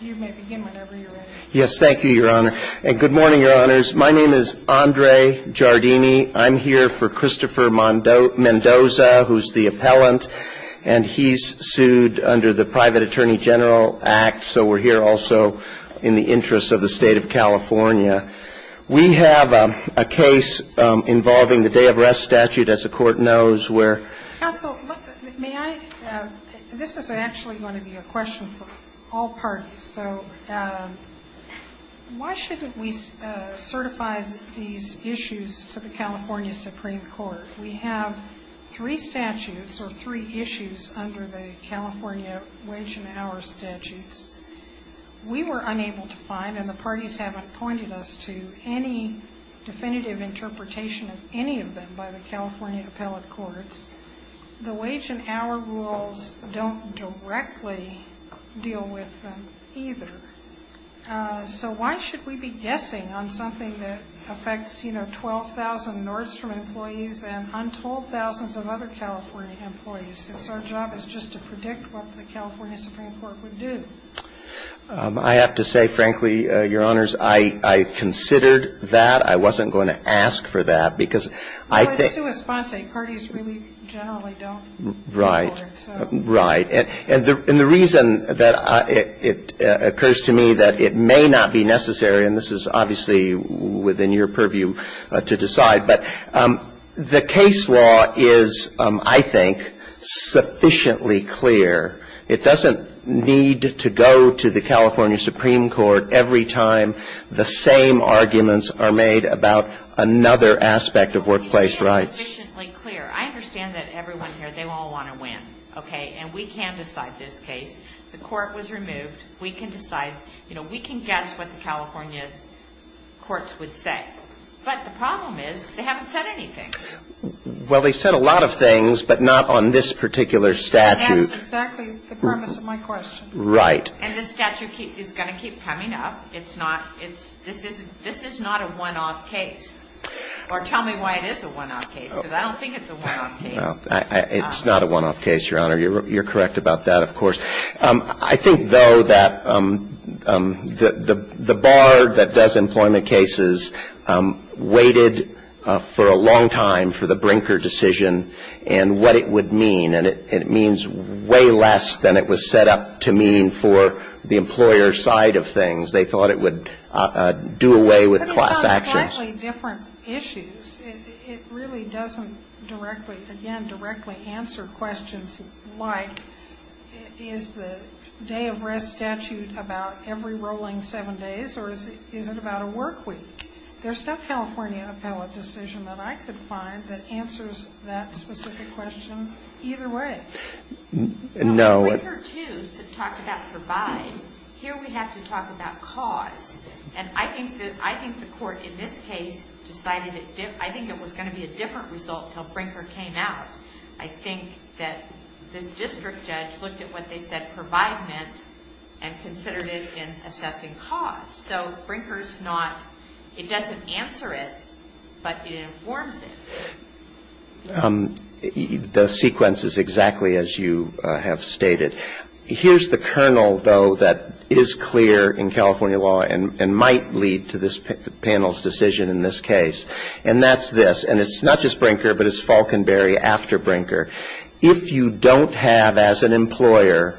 You may begin whenever you're ready. Yes, thank you, Your Honor. And good morning, Your Honors. My name is Andre Giardini. I'm here for Christopher Mendoza, who's the appellant, and he's sued under the Private Attorney General Act, so we're here also in the interest of the State of California. We have a case involving the day of rest statute, as the Court knows, where – Counsel, may I – this is actually going to be a question for all parties. So why shouldn't we certify these issues to the California Supreme Court? We have three statutes, or three issues, under the California wage and hour statutes. We were unable to find, and the parties haven't pointed us to any definitive interpretation of any of them by the California appellate courts. The wage and hour rules don't directly deal with them, either. So why should we be guessing on something that affects, you know, 12,000 Nordstrom employees and untold thousands of other California employees, since our job is just to predict what the California Supreme Court would do? I have to say, frankly, Your Honors, I considered that. I wasn't going to ask for that, because I think – Well, it's sui sponse. Parties really generally don't – Right. Right. And the reason that it occurs to me that it may not be necessary, and this is obviously within your purview to decide, but the case law is, I think, sufficiently clear. It doesn't need to go to the California Supreme Court every time the same arguments are made about another aspect of workplace rights. Well, you say it's sufficiently clear. I understand that everyone here, they all want to win, okay? And we can decide this case. The court was removed. We can decide – you know, we can guess what the California courts would say. But the problem is, they haven't said anything. Well, they've said a lot of things, but not on this particular statute. That's exactly the premise of my question. Right. And this statute is going to keep coming up. It's not – this is not a one-off case. Or tell me why it is a one-off case, because I don't think it's a one-off case. It's not a one-off case, Your Honor. You're correct about that, of course. I think, though, that the bar that does employment cases waited for a long time for the Brinker decision and what it would mean. And it means way less than it was set up to mean for the employer side of things. They thought it would do away with class actions. But it's on slightly different issues. It really doesn't directly – again, directly answer questions like, is the day-of-rest statute about every rolling seven days, or is it about a work week? There's no California appellate decision that I could find that answers that specific question either way. No. Brinker, too, talked about provide. Here, we have to talk about cause. And I think that – I think the Court in this case decided it – I think it was going to be a different result until Brinker came out. I think that this district judge looked at what they said provide meant and considered it in assessing cause. So Brinker's not – it doesn't answer it, but it informs it. The sequence is exactly as you have stated. Here's the kernel, though, that is clear in California law and might lead to this panel's decision in this case. And that's this. And it's not just Brinker, but it's Falkenberry after Brinker. If you don't have as an employer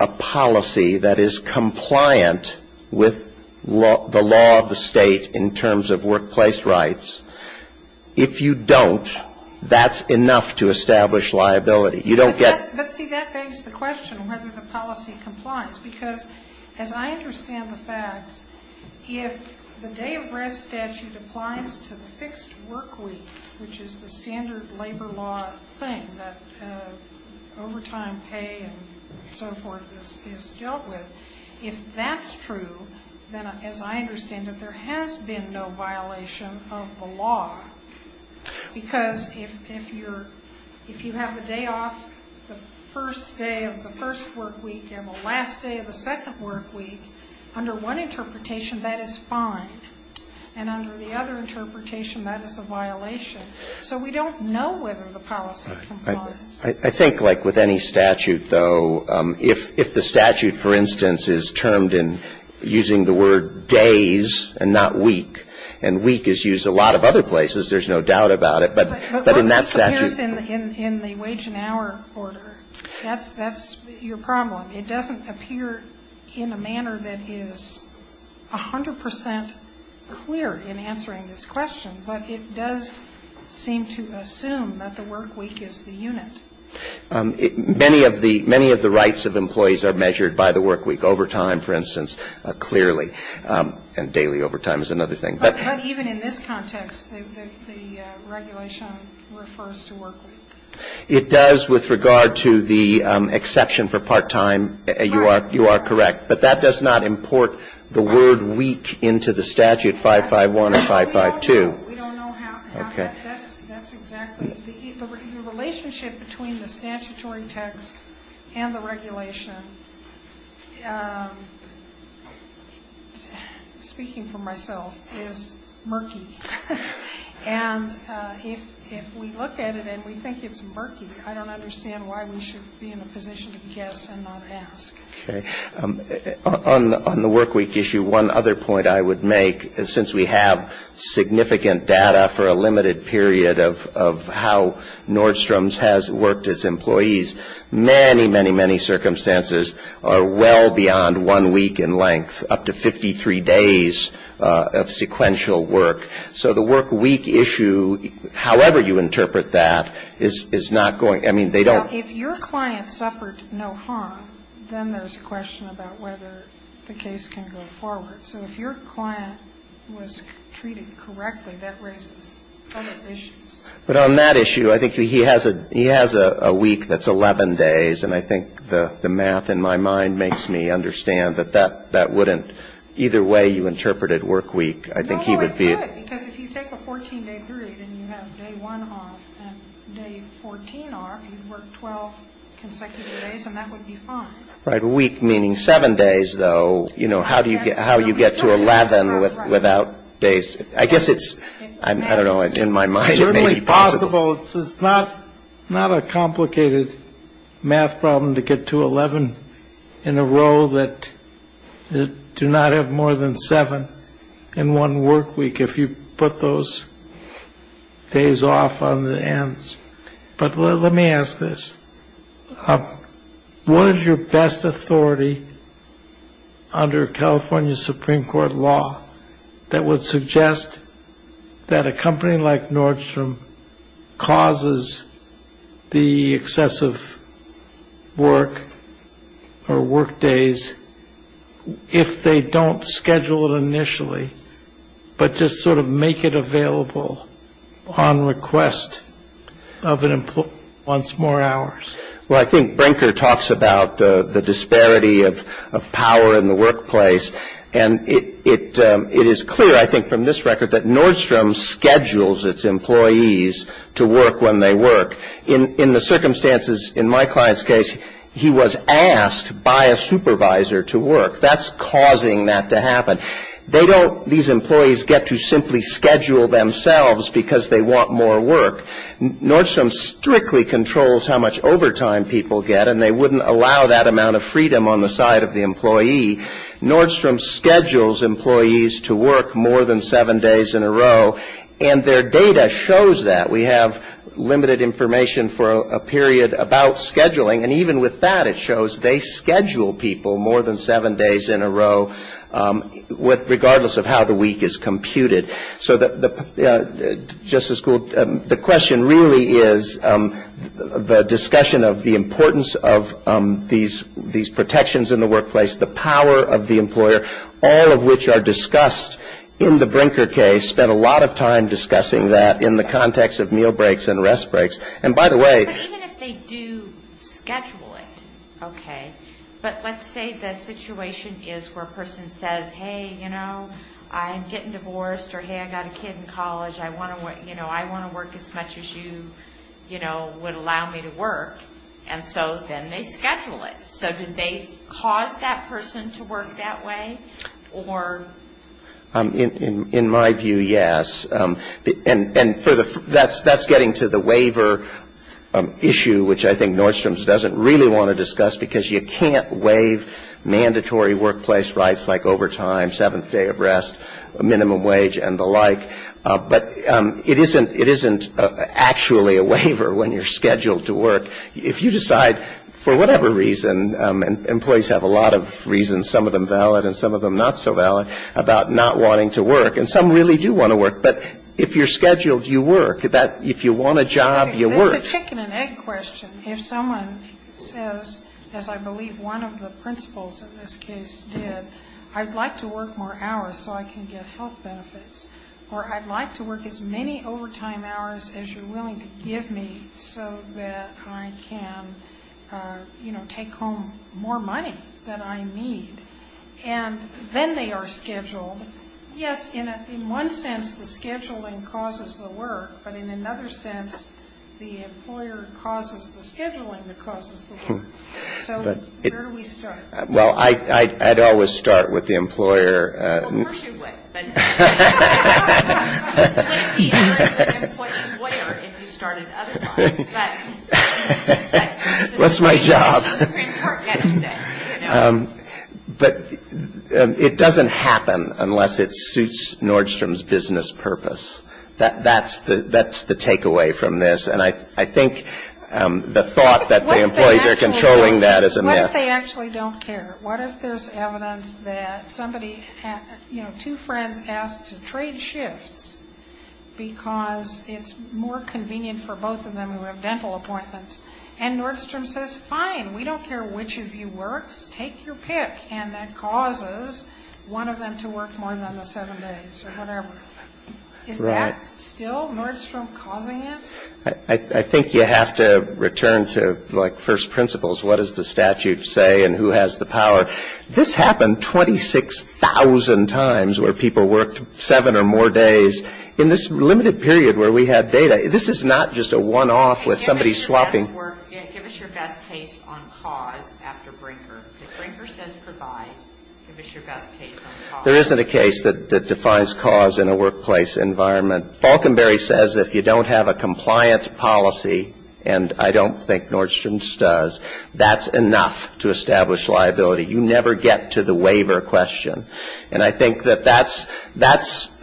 a policy that is compliant with the law of the State in terms of liability, if you don't, that's enough to establish liability. You don't get – But, see, that begs the question whether the policy complies, because as I understand the facts, if the day of rest statute applies to the fixed work week, which is the standard labor law thing that overtime pay and so forth is dealt with, if that's true, then, as I understand it, there has been no violation of the law. Because if you're – if you have the day off the first day of the first work week and the last day of the second work week, under one interpretation, that is fine. And under the other interpretation, that is a violation. So we don't know whether the policy complies. I think, like with any statute, though, if the statute, for instance, is termed the word days and not week, and week is used a lot of other places, there's no doubt about it, but in that statute – But what appears in the wage and hour order? That's your problem. It doesn't appear in a manner that is 100 percent clear in answering this question, but it does seem to assume that the work week is the unit. Many of the – many of the rights of employees are measured by the work week. Overtime, for instance, clearly. And daily overtime is another thing. But even in this context, the regulation refers to work week. It does with regard to the exception for part-time. You are correct. But that does not import the word week into the statute, 551 and 552. We don't know how that – that's exactly – the relationship between the statutory text and the regulation, speaking for myself, is murky. And if we look at it and we think it's murky, I don't understand why we should be in a position to guess and not ask. Okay. On the work week issue, one other point I would make, since we have significant data for a limited period of how Nordstrom's has worked its employees, many, many, many circumstances are well beyond one week in length, up to 53 days of sequential work. So the work week issue, however you interpret that, is not going – I mean, they don't – Now, if your client suffered no harm, then there's a question about whether the case can go forward. So if your client was treated correctly, that raises other issues. But on that issue, I think he has a week that's 11 days, and I think the math in my mind makes me understand that that wouldn't – either way you interpret it, work week, I think he would be – No, it would, because if you take a 14-day period and you have day one off and day 14 off, you'd work 12 consecutive days, and that would be fine. Right. A week meaning seven days, though. You know, how do you get to 11 without days? I guess it's – I don't know. It's in my mind. It may be possible. It's certainly possible. It's not a complicated math problem to get to 11 in a row that do not have more than seven in one work week if you put those days off on the ends. But let me ask this. What is your best authority under California Supreme Court law that would suggest that a company like Nordstrom causes the excessive work or work days if they don't schedule it initially, but just sort of make it once more hours? Well, I think Brinker talks about the disparity of power in the workplace, and it is clear, I think, from this record that Nordstrom schedules its employees to work when they work. In the circumstances in my client's case, he was asked by a supervisor to work. That's causing that to happen. They don't – these employees get to simply because they want more work. Nordstrom strictly controls how much overtime people get, and they wouldn't allow that amount of freedom on the side of the employee. Nordstrom schedules employees to work more than seven days in a row, and their data shows that. We have limited information for a period about scheduling, and even with that, it shows they schedule people more than seven days in a row regardless of how the week is computed. So the – Justice Gould, the question really is the discussion of the importance of these protections in the workplace, the power of the employer, all of which are discussed in the Brinker case, spent a lot of time discussing that in the context of meal breaks and rest breaks. And by the way But even if they do schedule it, okay, but let's say the situation is where a I'm getting divorced or, hey, I got a kid in college, I want to work as much as you, you know, would allow me to work. And so then they schedule it. So did they cause that person to work that way? Or In my view, yes. And for the – that's getting to the waiver issue, which I think Nordstrom doesn't really want to discuss, because you can't waive mandatory workplace rights like overtime, seventh day of rest, minimum wage and the like. But it isn't – it isn't actually a waiver when you're scheduled to work. If you decide, for whatever reason, and employees have a lot of reasons, some of them valid and some of them not so valid, about not wanting to work. And some really do want to work. But if you're scheduled, you work. If you want a job, you work. It's a chicken and egg question. If someone says, as I believe one of the principals in this case did, I'd like to work more hours so I can get health benefits. Or I'd like to work as many overtime hours as you're willing to give me so that I can, you know, take home more money than I need. And then they are scheduled. Yes, in one sense the scheduling causes the work, but in another sense the employer causes the scheduling that causes the work. So where do we start? Well, I'd always start with the employer. Well, of course you would. But it doesn't happen unless it suits Nordstrom's business purpose. That's the takeaway from this. And I think the thought that the employees are controlling that is a myth. What if they actually don't care? What if there's evidence that somebody, you know, two friends asked to trade shifts because it's more convenient for both of them who have dental appointments. And Nordstrom says, fine, we don't care which of you works. Take your pick. And that causes one of them to work more than the seven days or whatever. Is that still Nordstrom causing it? I think you have to return to, like, first principles. What does the statute say and who has the power? This happened 26,000 times where people worked seven or more days. In this limited period where we had data, this is not just a one-off with somebody swapping. Give us your best case on cause after Brinker. Because Brinker says provide. Give us your best case on cause. There isn't a case that defines cause in a workplace environment. Falkenberry says if you don't have a compliant policy, and I don't think Nordstrom's does, that's enough to establish liability. You never get to the waiver question. And I think that that's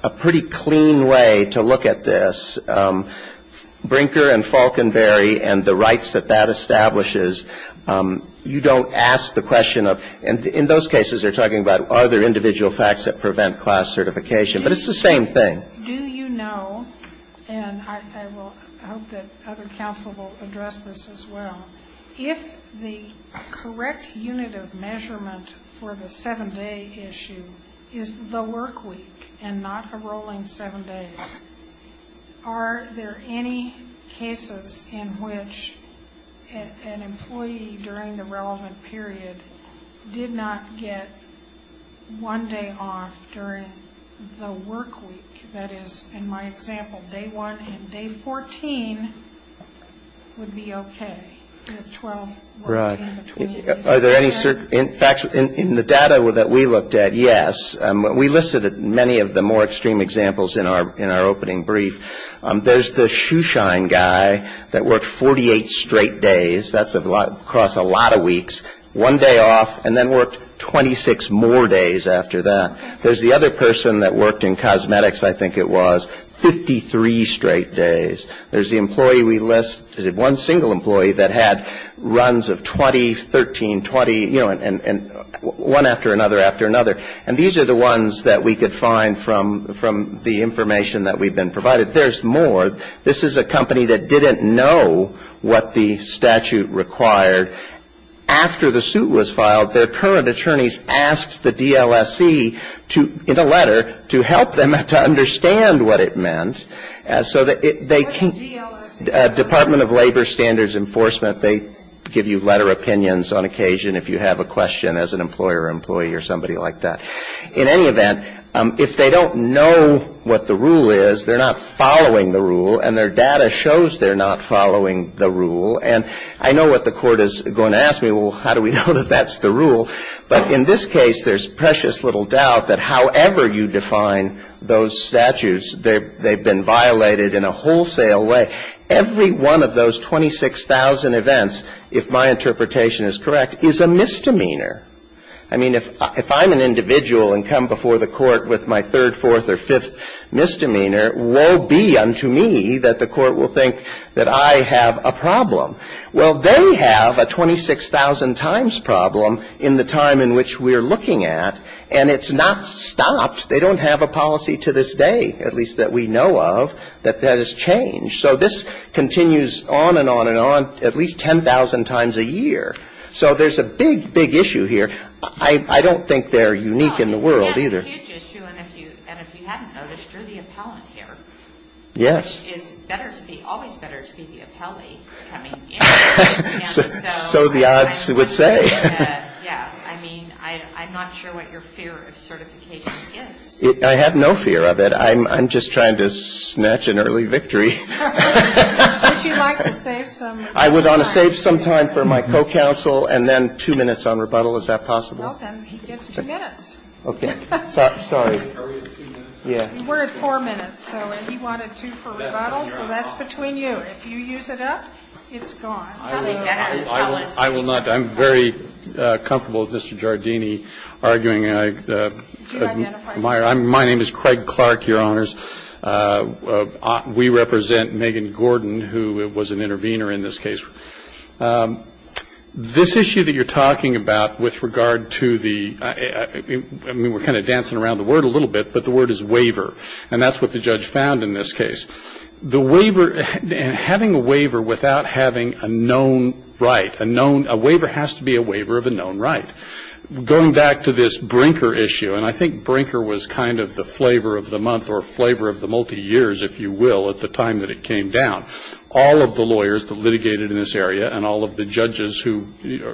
a pretty clean way to look at this. Brinker and Falkenberry and the rights that that establishes, you don't ask the question of, and in those cases they're talking about are there individual facts that prevent class certification. But it's the same thing. Do you know, and I hope that other counsel will address this as well, if the correct unit of measurement for the seven-day issue is the workweek and not a rolling seven days, are there any cases in which an employee during the relevant period did not get one day off during the workweek? That is, in my example, day one and day 14 would be okay. Are there any facts in the data that we looked at? Yes. We listed many of the more extreme examples in our opening brief. There's the shoeshine guy that worked 48 straight days. That's across a lot of weeks, one day off, and then worked 26 more days after that. There's the other person that worked in cosmetics, I think it was, 53 straight days. There's the employee we listed, one single employee that had runs of 20, 13, 20, you know, and one after another after another. And these are the ones that we could find from the information that we've been provided. There's more. This is a company that didn't know what the statute required. After the suit was filed, their current attorneys asked the DLSC to, in a letter, to help them to understand what it meant. So they can't, Department of Labor Standards Enforcement, they give you letter opinions on occasion if you have a question as an employer or employee or somebody like that. In any event, if they don't know what the rule is, they're not following the rule, and their data shows they're not following the rule. And I know what the Court is going to ask me, well, how do we know that that's the rule? But in this case, there's precious little doubt that however you define those statutes, they've been violated in a wholesale way. Every one of those 26,000 events, if my interpretation is correct, is a misdemeanor. I mean, if I'm an individual and come before the Court with my third, fourth, or fifth misdemeanor, woe be unto me that the Court will think that I have a problem. Well, they have a 26,000 times problem in the time in which we're looking at, and it's not stopped. They don't have a policy to this day, at least that we know of, that has changed. So this continues on and on and on at least 10,000 times a year. So there's a big, big issue here. I don't think they're unique in the world either. And if you hadn't noticed, you're the appellant here. Yes. It's better to be, always better to be the appellee coming in. So the odds would say. Yeah. I mean, I'm not sure what your fear of certification is. I have no fear of it. I'm just trying to snatch an early victory. Would you like to save some time? I would want to save some time for my co-counsel and then two minutes on rebuttal. Is that possible? Well, then he gets two minutes. Okay. Sorry. Are we at two minutes? We're at four minutes. And he wanted two for rebuttal. So that's between you. If you use it up, it's gone. I will not. I'm very comfortable with Mr. Giardini arguing. My name is Craig Clark, Your Honors. We represent Megan Gordon, who was an intervener in this case. This issue that you're talking about with regard to the, I mean, we're kind of dancing around the word a little bit, but the word is waiver. And that's what the judge found in this case. The waiver, and having a waiver without having a known right, a known, a waiver has to be a waiver of a known right. Going back to this Brinker issue, and I think Brinker was kind of the flavor of the month or flavor of the multi-years, if you will, at the time that it came down. All of the lawyers that litigated in this area and all of the judges who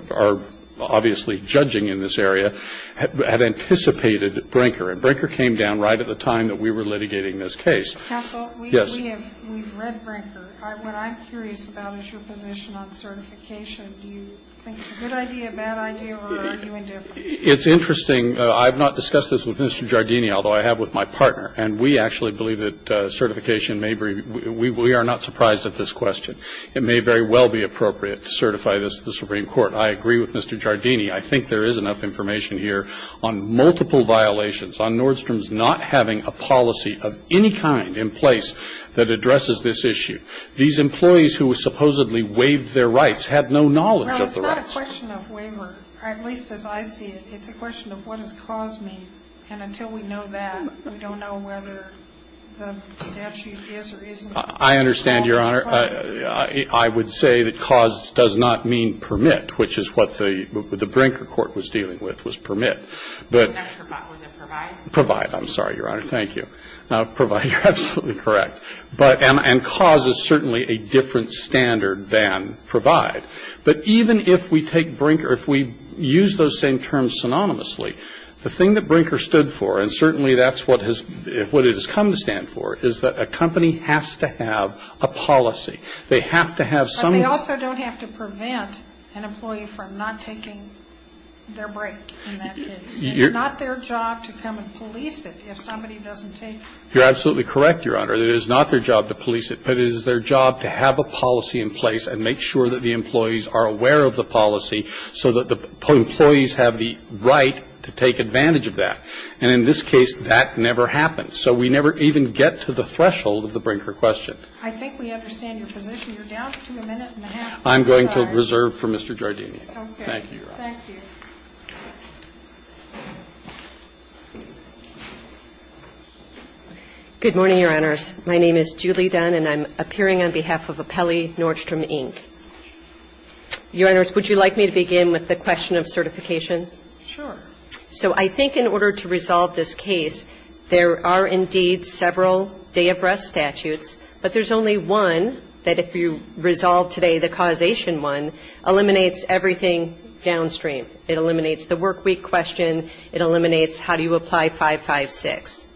are obviously judging in this area had anticipated Brinker. And Brinker came down right at the time that we were litigating this case. Counsel? Yes. We've read Brinker. What I'm curious about is your position on certification. Do you think it's a good idea, a bad idea, or are you indifferent? It's interesting. I've not discussed this with Mr. Giardini, although I have with my partner. And we actually believe that certification may be we are not surprised at this question. It may very well be appropriate to certify this to the Supreme Court. I agree with Mr. Giardini. I think there is enough information here on multiple violations, on Nordstrom's not having a policy of any kind in place that addresses this issue. These employees who supposedly waived their rights have no knowledge of the rights. Well, it's not a question of waiver, at least as I see it. It's a question of what has caused me. And until we know that, we don't know whether the statute is or isn't. I understand, Your Honor. I would say that caused does not mean permit, which is what the Brinker court was dealing with, was permit. Was it provide? Provide. I'm sorry, Your Honor. Thank you. Provide. You're absolutely correct. And cause is certainly a different standard than provide. But even if we take Brinker, if we use those same terms synonymously, the thing that Brinker stood for, and certainly that's what has come to stand for, is that a company has to have a policy. They have to have some. But they also don't have to prevent an employee from not taking their break in that case. It's not their job to come and police it if somebody doesn't take it. You're absolutely correct, Your Honor. It is not their job to police it, but it is their job to have a policy in place and make sure that the employees are aware of the policy so that the employees have the right to take advantage of that. And in this case, that never happened. So we never even get to the threshold of the Brinker question. I think we understand your position. You're down to a minute and a half. I'm going to reserve for Mr. Giardini. Okay. Thank you, Your Honor. Thank you. Good morning, Your Honors. My name is Julie Dunn, and I'm appearing on behalf of Apelli Nordstrom, Inc. Your Honors, would you like me to begin with the question of certification? Sure. So I think in order to resolve this case, there are indeed several day of rest statutes, but there's only one that if you resolve today, the causation one, eliminates everything downstream. It eliminates the workweek question. It eliminates how do you apply 556.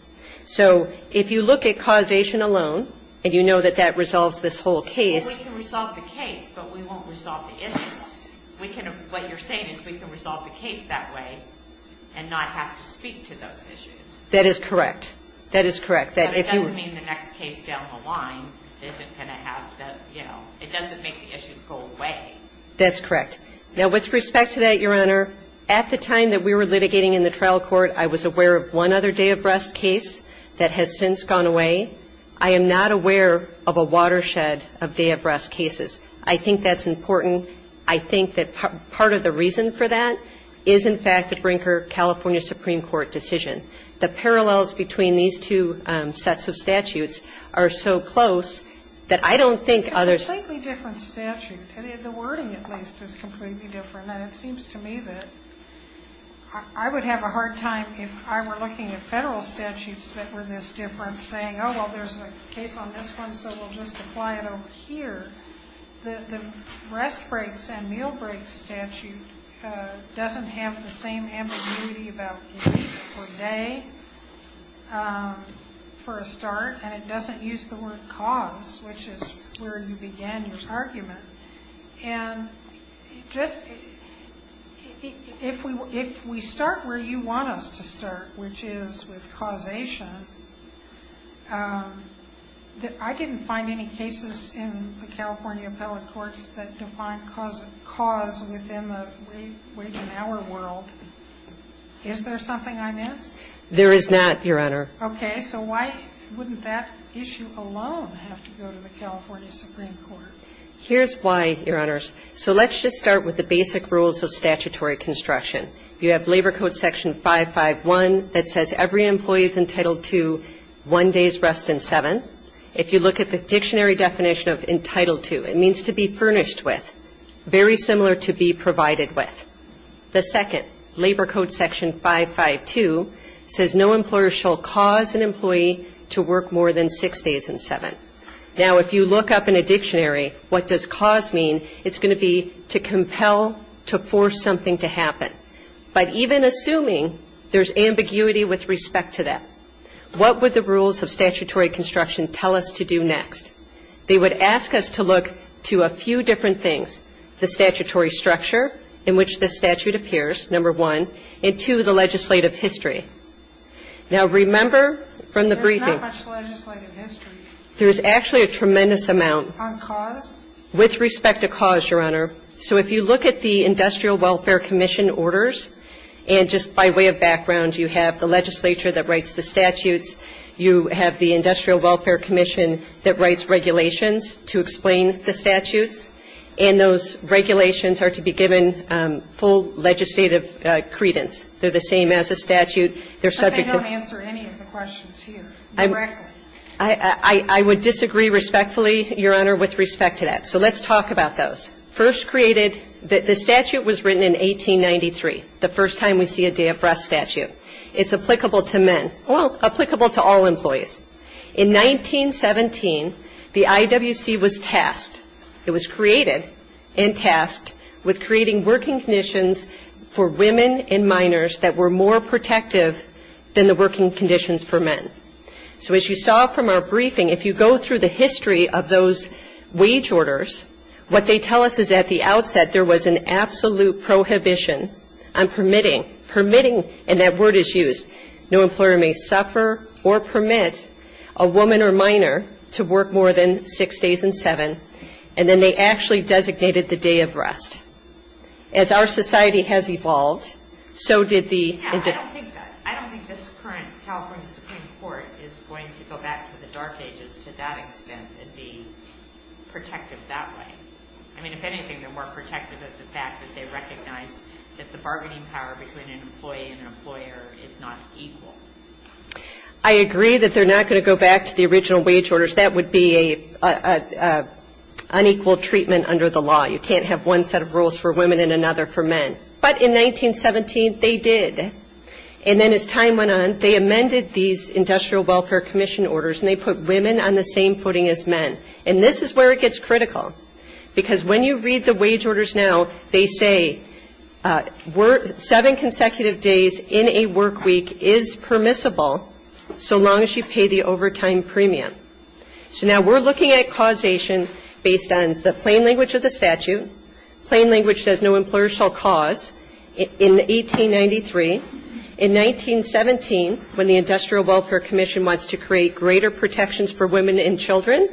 So if you look at causation alone, and you know that that resolves this whole case. Well, we can resolve the case, but we won't resolve the issues. What you're saying is we can resolve the case that way and not have to speak to those issues. That is correct. That is correct. But it doesn't mean the next case down the line isn't going to have the, you know, it doesn't make the issues go away. That's correct. Now, with respect to that, Your Honor, at the time that we were litigating in the trial court, I was aware of one other day of rest case that has since gone away. I am not aware of a watershed of day of rest cases. I think that's important. I think that part of the reason for that is, in fact, the Brinker, California Supreme Court decision. The parallels between these two sets of statutes are so close that I don't think others. It's a completely different statute. The wording, at least, is completely different. And it seems to me that I would have a hard time if I were looking at Federal statutes that were this different saying, oh, well, there's a case on this one, so we'll just apply it over here. The rest breaks and meal breaks statute doesn't have the same ambiguity about week or day for a start. And it doesn't use the word cause, which is where you began your argument. And just if we start where you want us to start, which is with causation, I didn't find any cases in the California appellate courts that define cause within the wage and hour world. Is there something I missed? There is not, Your Honor. Okay. So why wouldn't that issue alone have to go to the California Supreme Court? Here's why, Your Honors. So let's just start with the basic rules of statutory construction. You have Labor Code section 551 that says every employee is entitled to one day's rest in seven. If you look at the dictionary definition of entitled to, it means to be furnished with, very similar to be provided with. The second, Labor Code section 552, says no employer shall cause an employee to work more than six days in seven. Now, if you look up in a dictionary what does cause mean, it's going to be to compel, to force something to happen. But even assuming there's ambiguity with respect to that, what would the rules of statutory construction tell us to do next? They would ask us to look to a few different things, the statutory structure in which this statute appears, number one, and two, the legislative history. Now, remember from the briefing. There's not much legislative history. There's actually a tremendous amount. On cause? With respect to cause, Your Honor. So if you look at the Industrial Welfare Commission orders, and just by way of background you have the legislature that writes the statutes, you have the Industrial Welfare Commission that writes regulations to explain the statutes, and those regulations are to be given full legislative credence. They're the same as a statute. They're subject to the law. I would disagree respectfully, Your Honor, with respect to that. So let's talk about those. First created, the statute was written in 1893, the first time we see a day of rest statute. It's applicable to men. Well, applicable to all employees. In 1917, the IWC was tasked, it was created and tasked with creating working conditions for women and minors that were more protective than the working conditions for men. So as you saw from our briefing, if you go through the history of those wage orders, what they tell us is at the outset there was an absolute prohibition on permitting, permitting, and that word is used, no employer may suffer or permit a woman or minor to work more than six days and seven. And then they actually designated the day of rest. As our society has evolved, so did the individuals. I agree that they're not going to go back to the original wage orders. That would be an unequal treatment under the law. You can't have one set of rules for women and another for men. But in 1917, they did. And then as time went on, they amended it. And then in 1916, they did. They amended these Industrial Welfare Commission orders, and they put women on the same footing as men. And this is where it gets critical, because when you read the wage orders now, they say seven consecutive days in a work week is permissible so long as you pay the overtime premium. So now we're looking at causation based on the plain language of the statute, plain language says no employer shall cause in 1893. In 1917, when the Industrial Welfare Commission wants to create greater protections for women and children,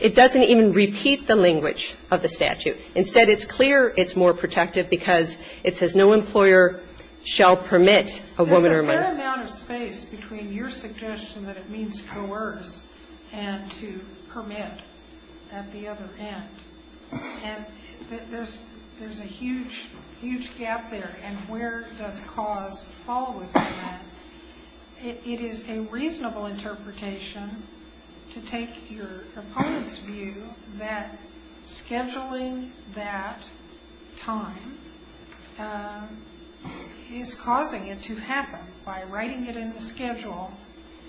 it doesn't even repeat the language of the statute. Instead, it's clear it's more protective because it says no employer shall permit a woman or a man. There's a fair amount of space between your suggestion that it means coerce and to permit at the other end. And there's a huge, huge gap there. And where does cause fall within that? It is a reasonable interpretation to take your opponent's view that scheduling that time is causing it to happen. By writing it in the schedule,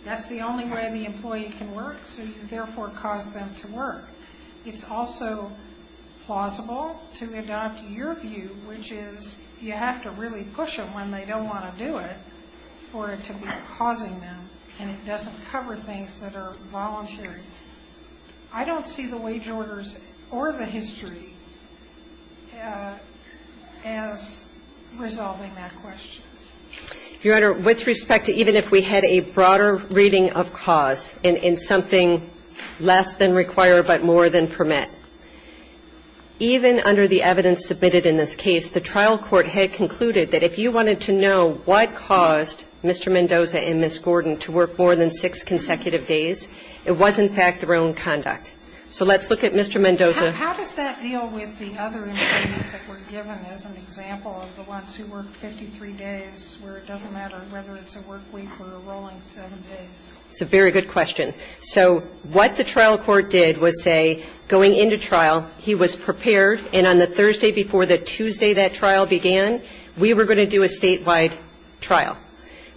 that's the only way the employee can work, so you therefore cause them to work. It's also plausible to adopt your view, which is you have to really push it when they don't want to do it for it to be causing them, and it doesn't cover things that are voluntary. I don't see the wage orders or the history as resolving that question. Your Honor, with respect to even if we had a broader reading of cause in something less than require but more than permit, even under the evidence submitted in this case, the trial court had concluded that if you wanted to know what caused Mr. Mendoza and Ms. Gordon to work more than six consecutive days, it was in fact their own conduct. So let's look at Mr. Mendoza. How does that deal with the other employees that were given as an example of the ones who worked 53 days where it doesn't matter whether it's a work week or a rolling seven days? It's a very good question. So what the trial court did was say going into trial, he was prepared, and on the Thursday before the Tuesday that trial began, we were going to do a statewide trial.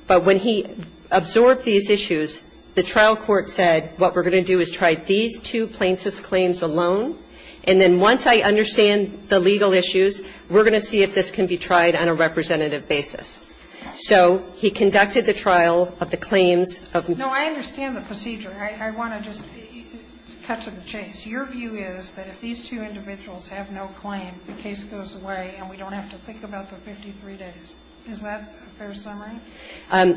But when he absorbed these issues, the trial court said what we're going to do is try these two plaintiffs' claims alone, and then once I understand the legal issues, we're going to see if this can be tried on a representative basis. No, I understand the procedure. I want to just cut to the chase. Your view is that if these two individuals have no claim, the case goes away and we don't have to think about the 53 days. Is that a fair summary?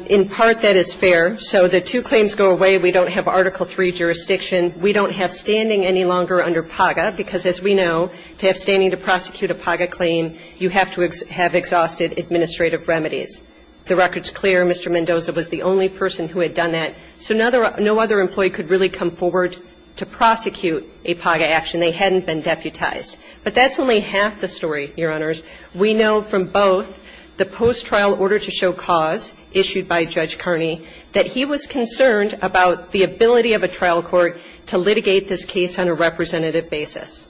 In part, that is fair. So the two claims go away. We don't have Article III jurisdiction. We don't have standing any longer under PAGA, because as we know, to have standing to prosecute a PAGA claim, you have to have exhausted administrative remedies. The record is clear. Mr. Mendoza was the only person who had done that. So no other employee could really come forward to prosecute a PAGA action. They hadn't been deputized. But that's only half the story, Your Honors. We know from both the post-trial order to show cause issued by Judge Kearney that he was concerned about the ability of a trial court to litigate this case on a representative basis.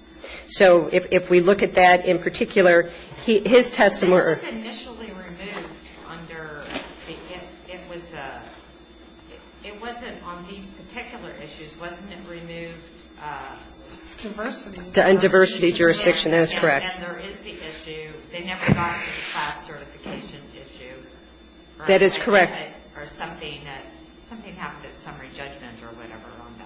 So if we look at that in particular, his testimony or his testimony. I'm sorry. The only thing I'm saying is that it was removed under the PAGA. It was a – it wasn't on these particular issues. Wasn't it removed? It's diversity. And diversity jurisdiction. That is correct. And there is the issue. They never got to the class certification issue. That is correct. Or something that – something happened at summary judgment or whatever on that.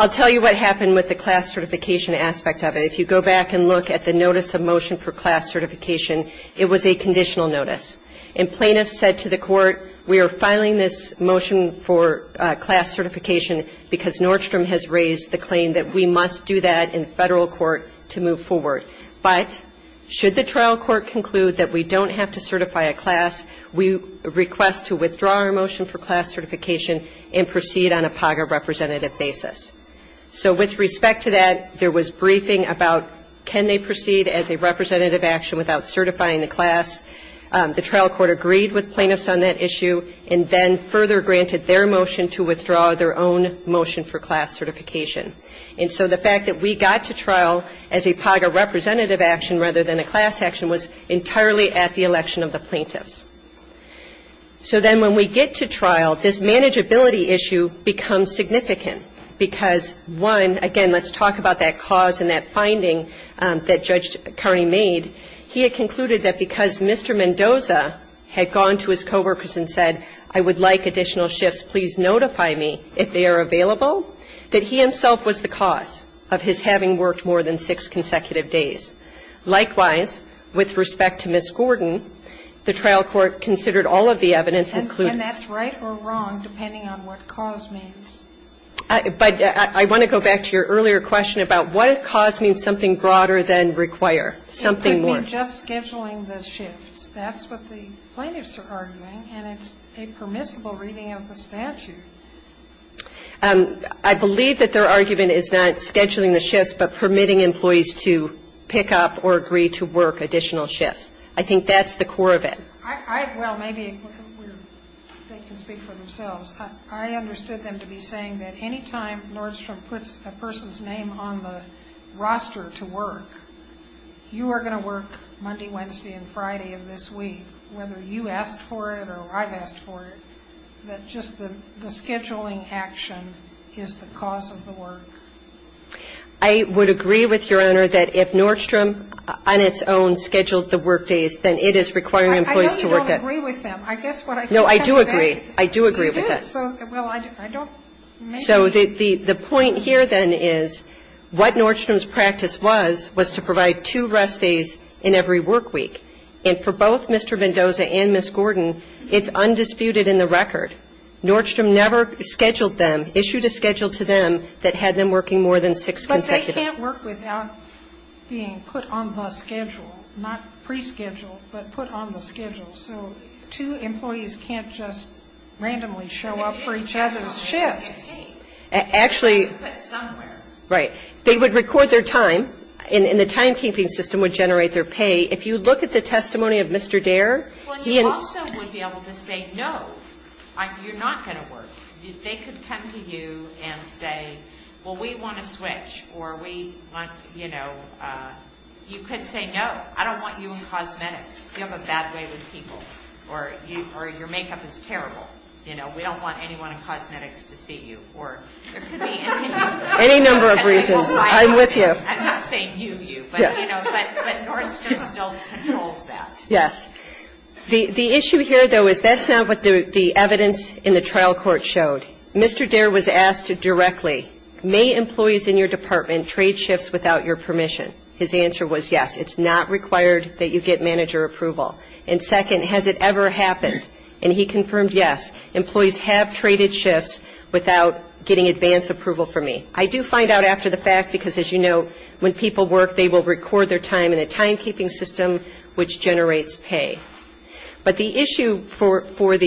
I'll tell you what happened with the class certification aspect of it. If you go back and look at the notice of motion for class certification, it was a conditional notice. And plaintiffs said to the court, we are filing this motion for class certification because Nordstrom has raised the claim that we must do that in federal court to move forward. But should the trial court conclude that we don't have to certify a class, we request to withdraw our motion for class certification and proceed on a PAGA representative basis. So with respect to that, there was briefing about can they proceed as a representative action without certifying the class. The trial court agreed with plaintiffs on that issue and then further granted their motion to withdraw their own motion for class certification. And so the fact that we got to trial as a PAGA representative action rather than a class action was entirely at the election of the plaintiffs. So then when we get to trial, this manageability issue becomes significant because, one, again, let's talk about that cause and that finding that Judge Carney made. He had concluded that because Mr. Mendoza had gone to his coworkers and said, I would like additional shifts, please notify me if they are available, that he himself was the cause of his having worked more than six consecutive Likewise, with respect to Ms. Gordon, the trial court considered all of the evidence, including And that's right or wrong, depending on what cause means. But I want to go back to your earlier question about what cause means something broader than require, something more. It could mean just scheduling the shifts. That's what the plaintiffs are arguing, and it's a permissible reading of the statute. I believe that their argument is not scheduling the shifts, but permitting employees to pick up or agree to work additional shifts. I think that's the core of it. Well, maybe they can speak for themselves. I understood them to be saying that any time Nordstrom puts a person's name on the roster to work, you are going to work Monday, Wednesday, and Friday of this week, whether you asked for it or I've asked for it, that just the scheduling action is the cause of the work. I would agree with Your Honor that if Nordstrom on its own scheduled the work days, then it is requiring employees to work at I know you don't agree with them. No, I do agree. I do agree with that. You do. So, well, I don't So the point here then is what Nordstrom's practice was, was to provide two rest days in every work week. And for both Mr. Mendoza and Ms. Gordon, it's undisputed in the record. Nordstrom never scheduled them, issued a schedule to them that had them working more than six consecutive But they can't work without being put on the schedule, not pre-scheduled, but put on the schedule. So two employees can't just randomly show up for each other's shifts. Actually But somewhere Right. They would record their time, and the timekeeping system would generate their pay. If you look at the testimony of Mr. Dare, he Also would be able to say, no, you're not going to work. They could come to you and say, well, we want to switch. Or we want, you know, you could say, no, I don't want you in cosmetics. You have a bad way with people. Or your makeup is terrible. You know, we don't want anyone in cosmetics to see you. Or there could be any number of reasons. I'm with you. I'm not saying you, you. But Nordstrom still controls that. Yes. The issue here, though, is that's not what the evidence in the trial court showed. Mr. Dare was asked directly, may employees in your department trade shifts without your permission? His answer was yes. It's not required that you get manager approval. And second, has it ever happened? And he confirmed yes. Employees have traded shifts without getting advance approval from me. I do find out after the fact because, as you know, when people work, they will record their time in a timekeeping system which generates pay. But the issue for both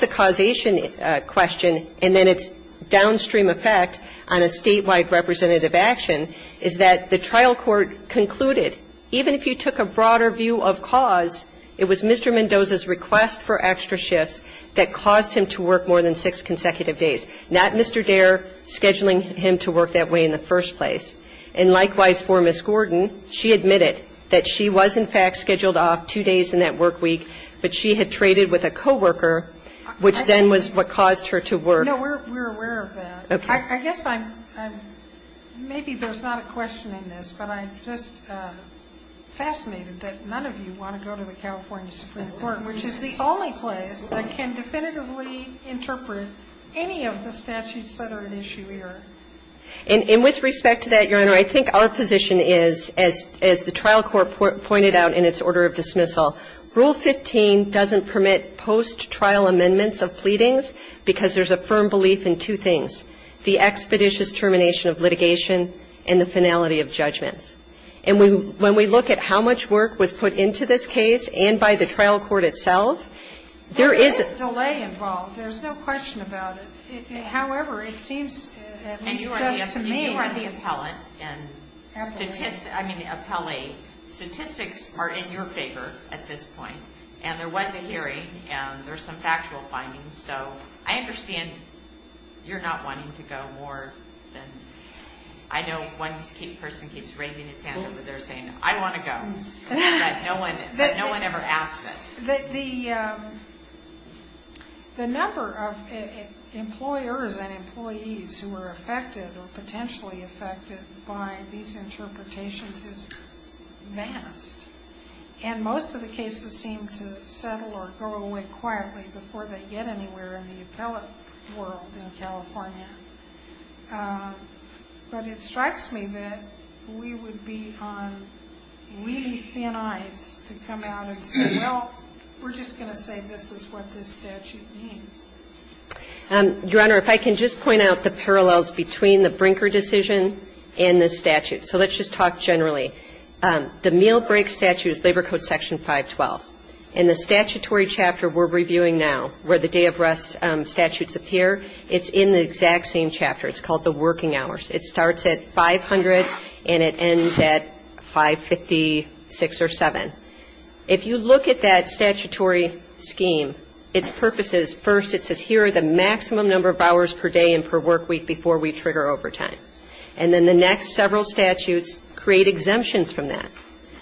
the causation question and then its downstream effect on a statewide representative action is that the trial court concluded, even if you took a broader view of cause, it was Mr. Mendoza's request for extra shifts that caused him to work more than six consecutive days, not Mr. Dare scheduling him to work that way in the first place. And likewise for Ms. Gordon, she admitted that she was, in fact, scheduled off two days in that work week, but she had traded with a co-worker, which then was what caused her to work. No, we're aware of that. Okay. I guess I'm ‑‑ maybe there's not a question in this, but I'm just fascinated that none of you want to go to the California Supreme Court, which is the only place that can definitively interpret any of the statutes that are at issue here. And with respect to that, Your Honor, I think our position is, as the trial court pointed out in its order of dismissal, Rule 15 doesn't permit post-trial amendments of pleadings because there's a firm belief in two things, the expeditious termination of litigation and the finality of judgments. And when we look at how much work was put into this case and by the trial court itself, there is a ‑‑ And you are the appellate, and statistics are in your favor at this point. And there was a hearing, and there's some factual findings. So I understand you're not wanting to go more than ‑‑ I know one person keeps raising his hand over there saying, I want to go, but no one ever asked us. The number of employers and employees who are affected or potentially affected by these interpretations is vast. And most of the cases seem to settle or go away quietly before they get anywhere in the appellate world in California. But it strikes me that we would be on really thin ice to come out and say, we're just going to say this is what this statute means. Your Honor, if I can just point out the parallels between the Brinker decision and the statute. So let's just talk generally. The meal break statute is Labor Code Section 512. In the statutory chapter we're reviewing now, where the day of rest statutes appear, it's in the exact same chapter. It's called the working hours. It starts at 500 and it ends at 556 or 7. If you look at that statutory scheme, its purpose is first it says, here are the maximum number of hours per day and per work week before we trigger overtime. And then the next several statutes create exemptions from that.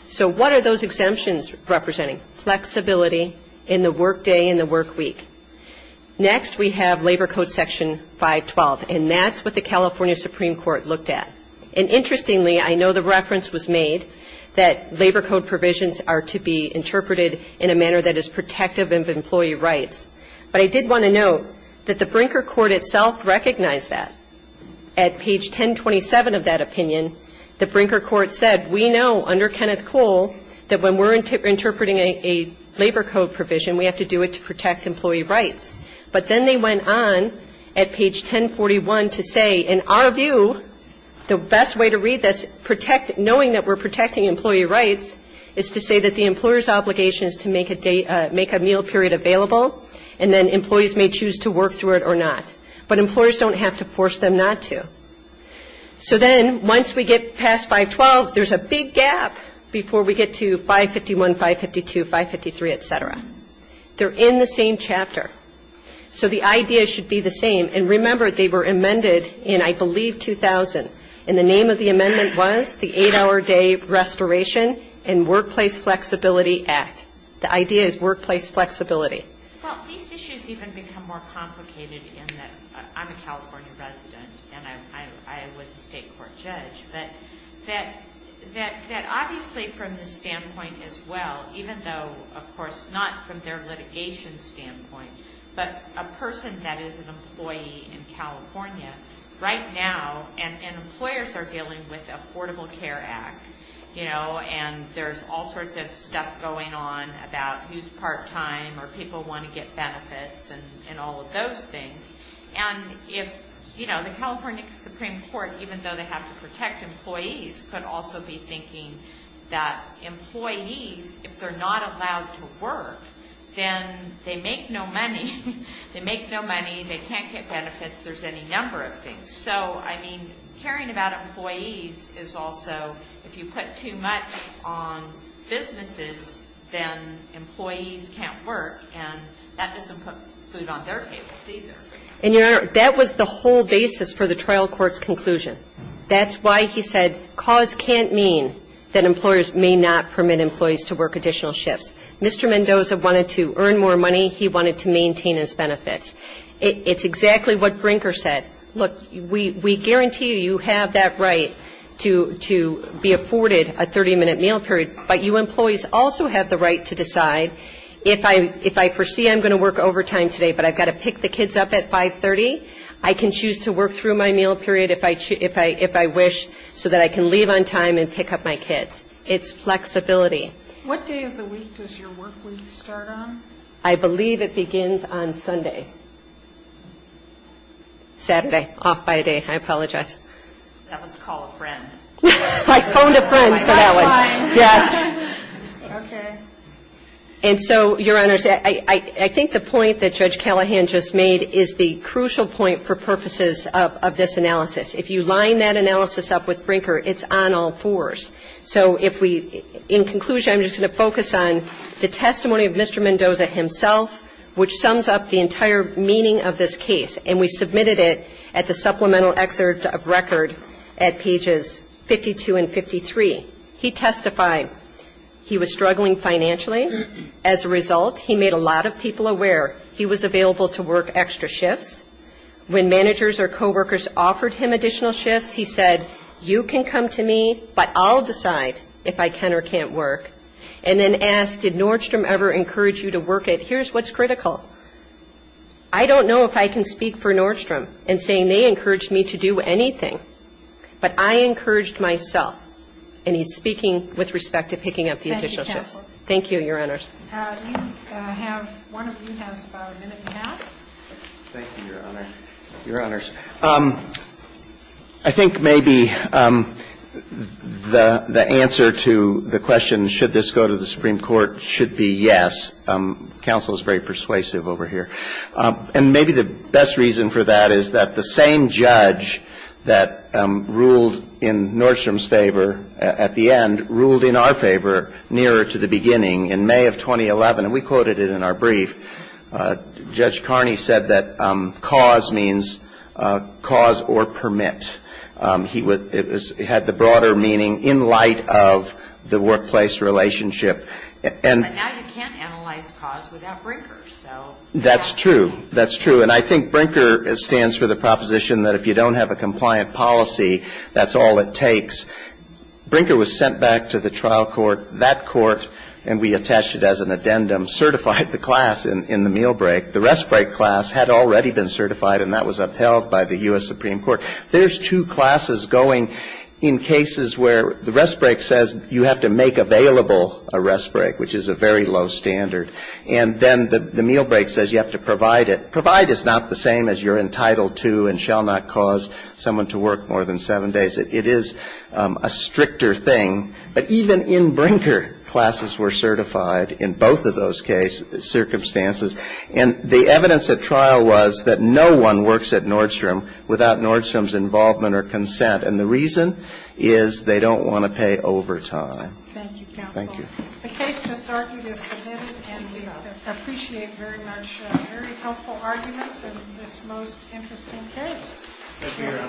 So what are those exemptions representing? Flexibility in the work day and the work week. Next we have Labor Code Section 512, and that's what the California Supreme Court looked at. And interestingly, I know the reference was made that Labor Code provisions are to be interpreted in a manner that is protective of employee rights. But I did want to note that the Brinker court itself recognized that. At page 1027 of that opinion, the Brinker court said, we know under Kenneth Cole that when we're interpreting a Labor Code provision, we have to do it to protect employee rights. But then they went on at page 1041 to say, in our view, the best way to read this, knowing that we're protecting employee rights, is to say that the employer's obligation is to make a meal period available, and then employees may choose to work through it or not. But employers don't have to force them not to. So then once we get past 512, there's a big gap before we get to 551, 552, 553, et cetera. They're in the same chapter. So the idea should be the same. And remember, they were amended in, I believe, 2000. And the name of the amendment was the 8-Hour Day Restoration and Workplace Flexibility Act. The idea is workplace flexibility. Well, these issues even become more complicated in that I'm a California resident, and I was a state court judge, but that obviously from the standpoint as well, even though, of course, not from their litigation standpoint, but a person that is an employee in California right now, and employers are dealing with Affordable Care Act, you know, and there's all sorts of stuff going on about who's part-time or people want to get benefits and all of those things. And if, you know, the California Supreme Court, even though they have to protect employees, could also be thinking that employees, if they're not allowed to work, then they make no money. They make no money. They can't get benefits. There's any number of things. So, I mean, caring about employees is also if you put too much on businesses, then employees can't work, and that doesn't put food on their tables either. And, Your Honor, that was the whole basis for the trial court's conclusion. That's why he said cause can't mean that employers may not permit employees to work additional shifts. Mr. Mendoza wanted to earn more money. He wanted to maintain his benefits. It's exactly what Brinker said. Look, we guarantee you you have that right to be afforded a 30-minute meal period, but you employees also have the right to decide if I foresee I'm going to work overtime today but I've got to pick the kids up at 530, I can choose to work through my meal period if I wish so that I can leave on time and pick up my kids. It's flexibility. What day of the week does your work week start on? I believe it begins on Sunday. Saturday. Off by a day. I apologize. That was call a friend. I phoned a friend for that one. Yes. Okay. And so, Your Honor, I think the point that Judge Callahan just made is the crucial point for purposes of this analysis. If you line that analysis up with Brinker, it's on all fours. So if we, in conclusion, I'm just going to focus on the testimony of Mr. Mendoza himself, which sums up the entire meaning of this case, and we submitted it at the supplemental excerpt of record at pages 52 and 53. He testified he was struggling financially. As a result, he made a lot of people aware he was available to work extra shifts. When managers or coworkers offered him additional shifts, he said, You can come to me, but I'll decide if I can or can't work. And then asked, Did Nordstrom ever encourage you to work it? Here's what's critical. I don't know if I can speak for Nordstrom in saying they encouraged me to do anything, but I encouraged myself. And he's speaking with respect to picking up the additional shifts. Thank you, Your Honors. We have one of you has about a minute and a half. Thank you, Your Honor. Your Honors. I think maybe the answer to the question, should this go to the Supreme Court, should be yes. Counsel is very persuasive over here. And maybe the best reason for that is that the same judge that ruled in Nordstrom's favor at the end ruled in our favor nearer to the beginning. In May of 2011, and we quoted it in our brief, Judge Carney said that cause means cause or permit. He had the broader meaning in light of the workplace relationship. But now you can't analyze cause without Brinker, so. That's true. That's true. And I think Brinker stands for the proposition that if you don't have a compliant policy, that's all it takes. Brinker was sent back to the trial court. That court, and we attached it as an addendum, certified the class in the meal break. The rest break class had already been certified, and that was upheld by the U.S. Supreme Court. There's two classes going in cases where the rest break says you have to make available a rest break, which is a very low standard. And then the meal break says you have to provide it. Provide is not the same as you're entitled to and shall not cause someone to work more than seven days. It is a stricter thing. But even in Brinker, classes were certified in both of those cases, circumstances. And the evidence at trial was that no one works at Nordstrom without Nordstrom's involvement or consent. And the reason is they don't want to pay overtime. Thank you, counsel. Thank you. The case just argued is submitted, and we appreciate very much, very helpful arguments in this most interesting case. Thank you, Your Honor.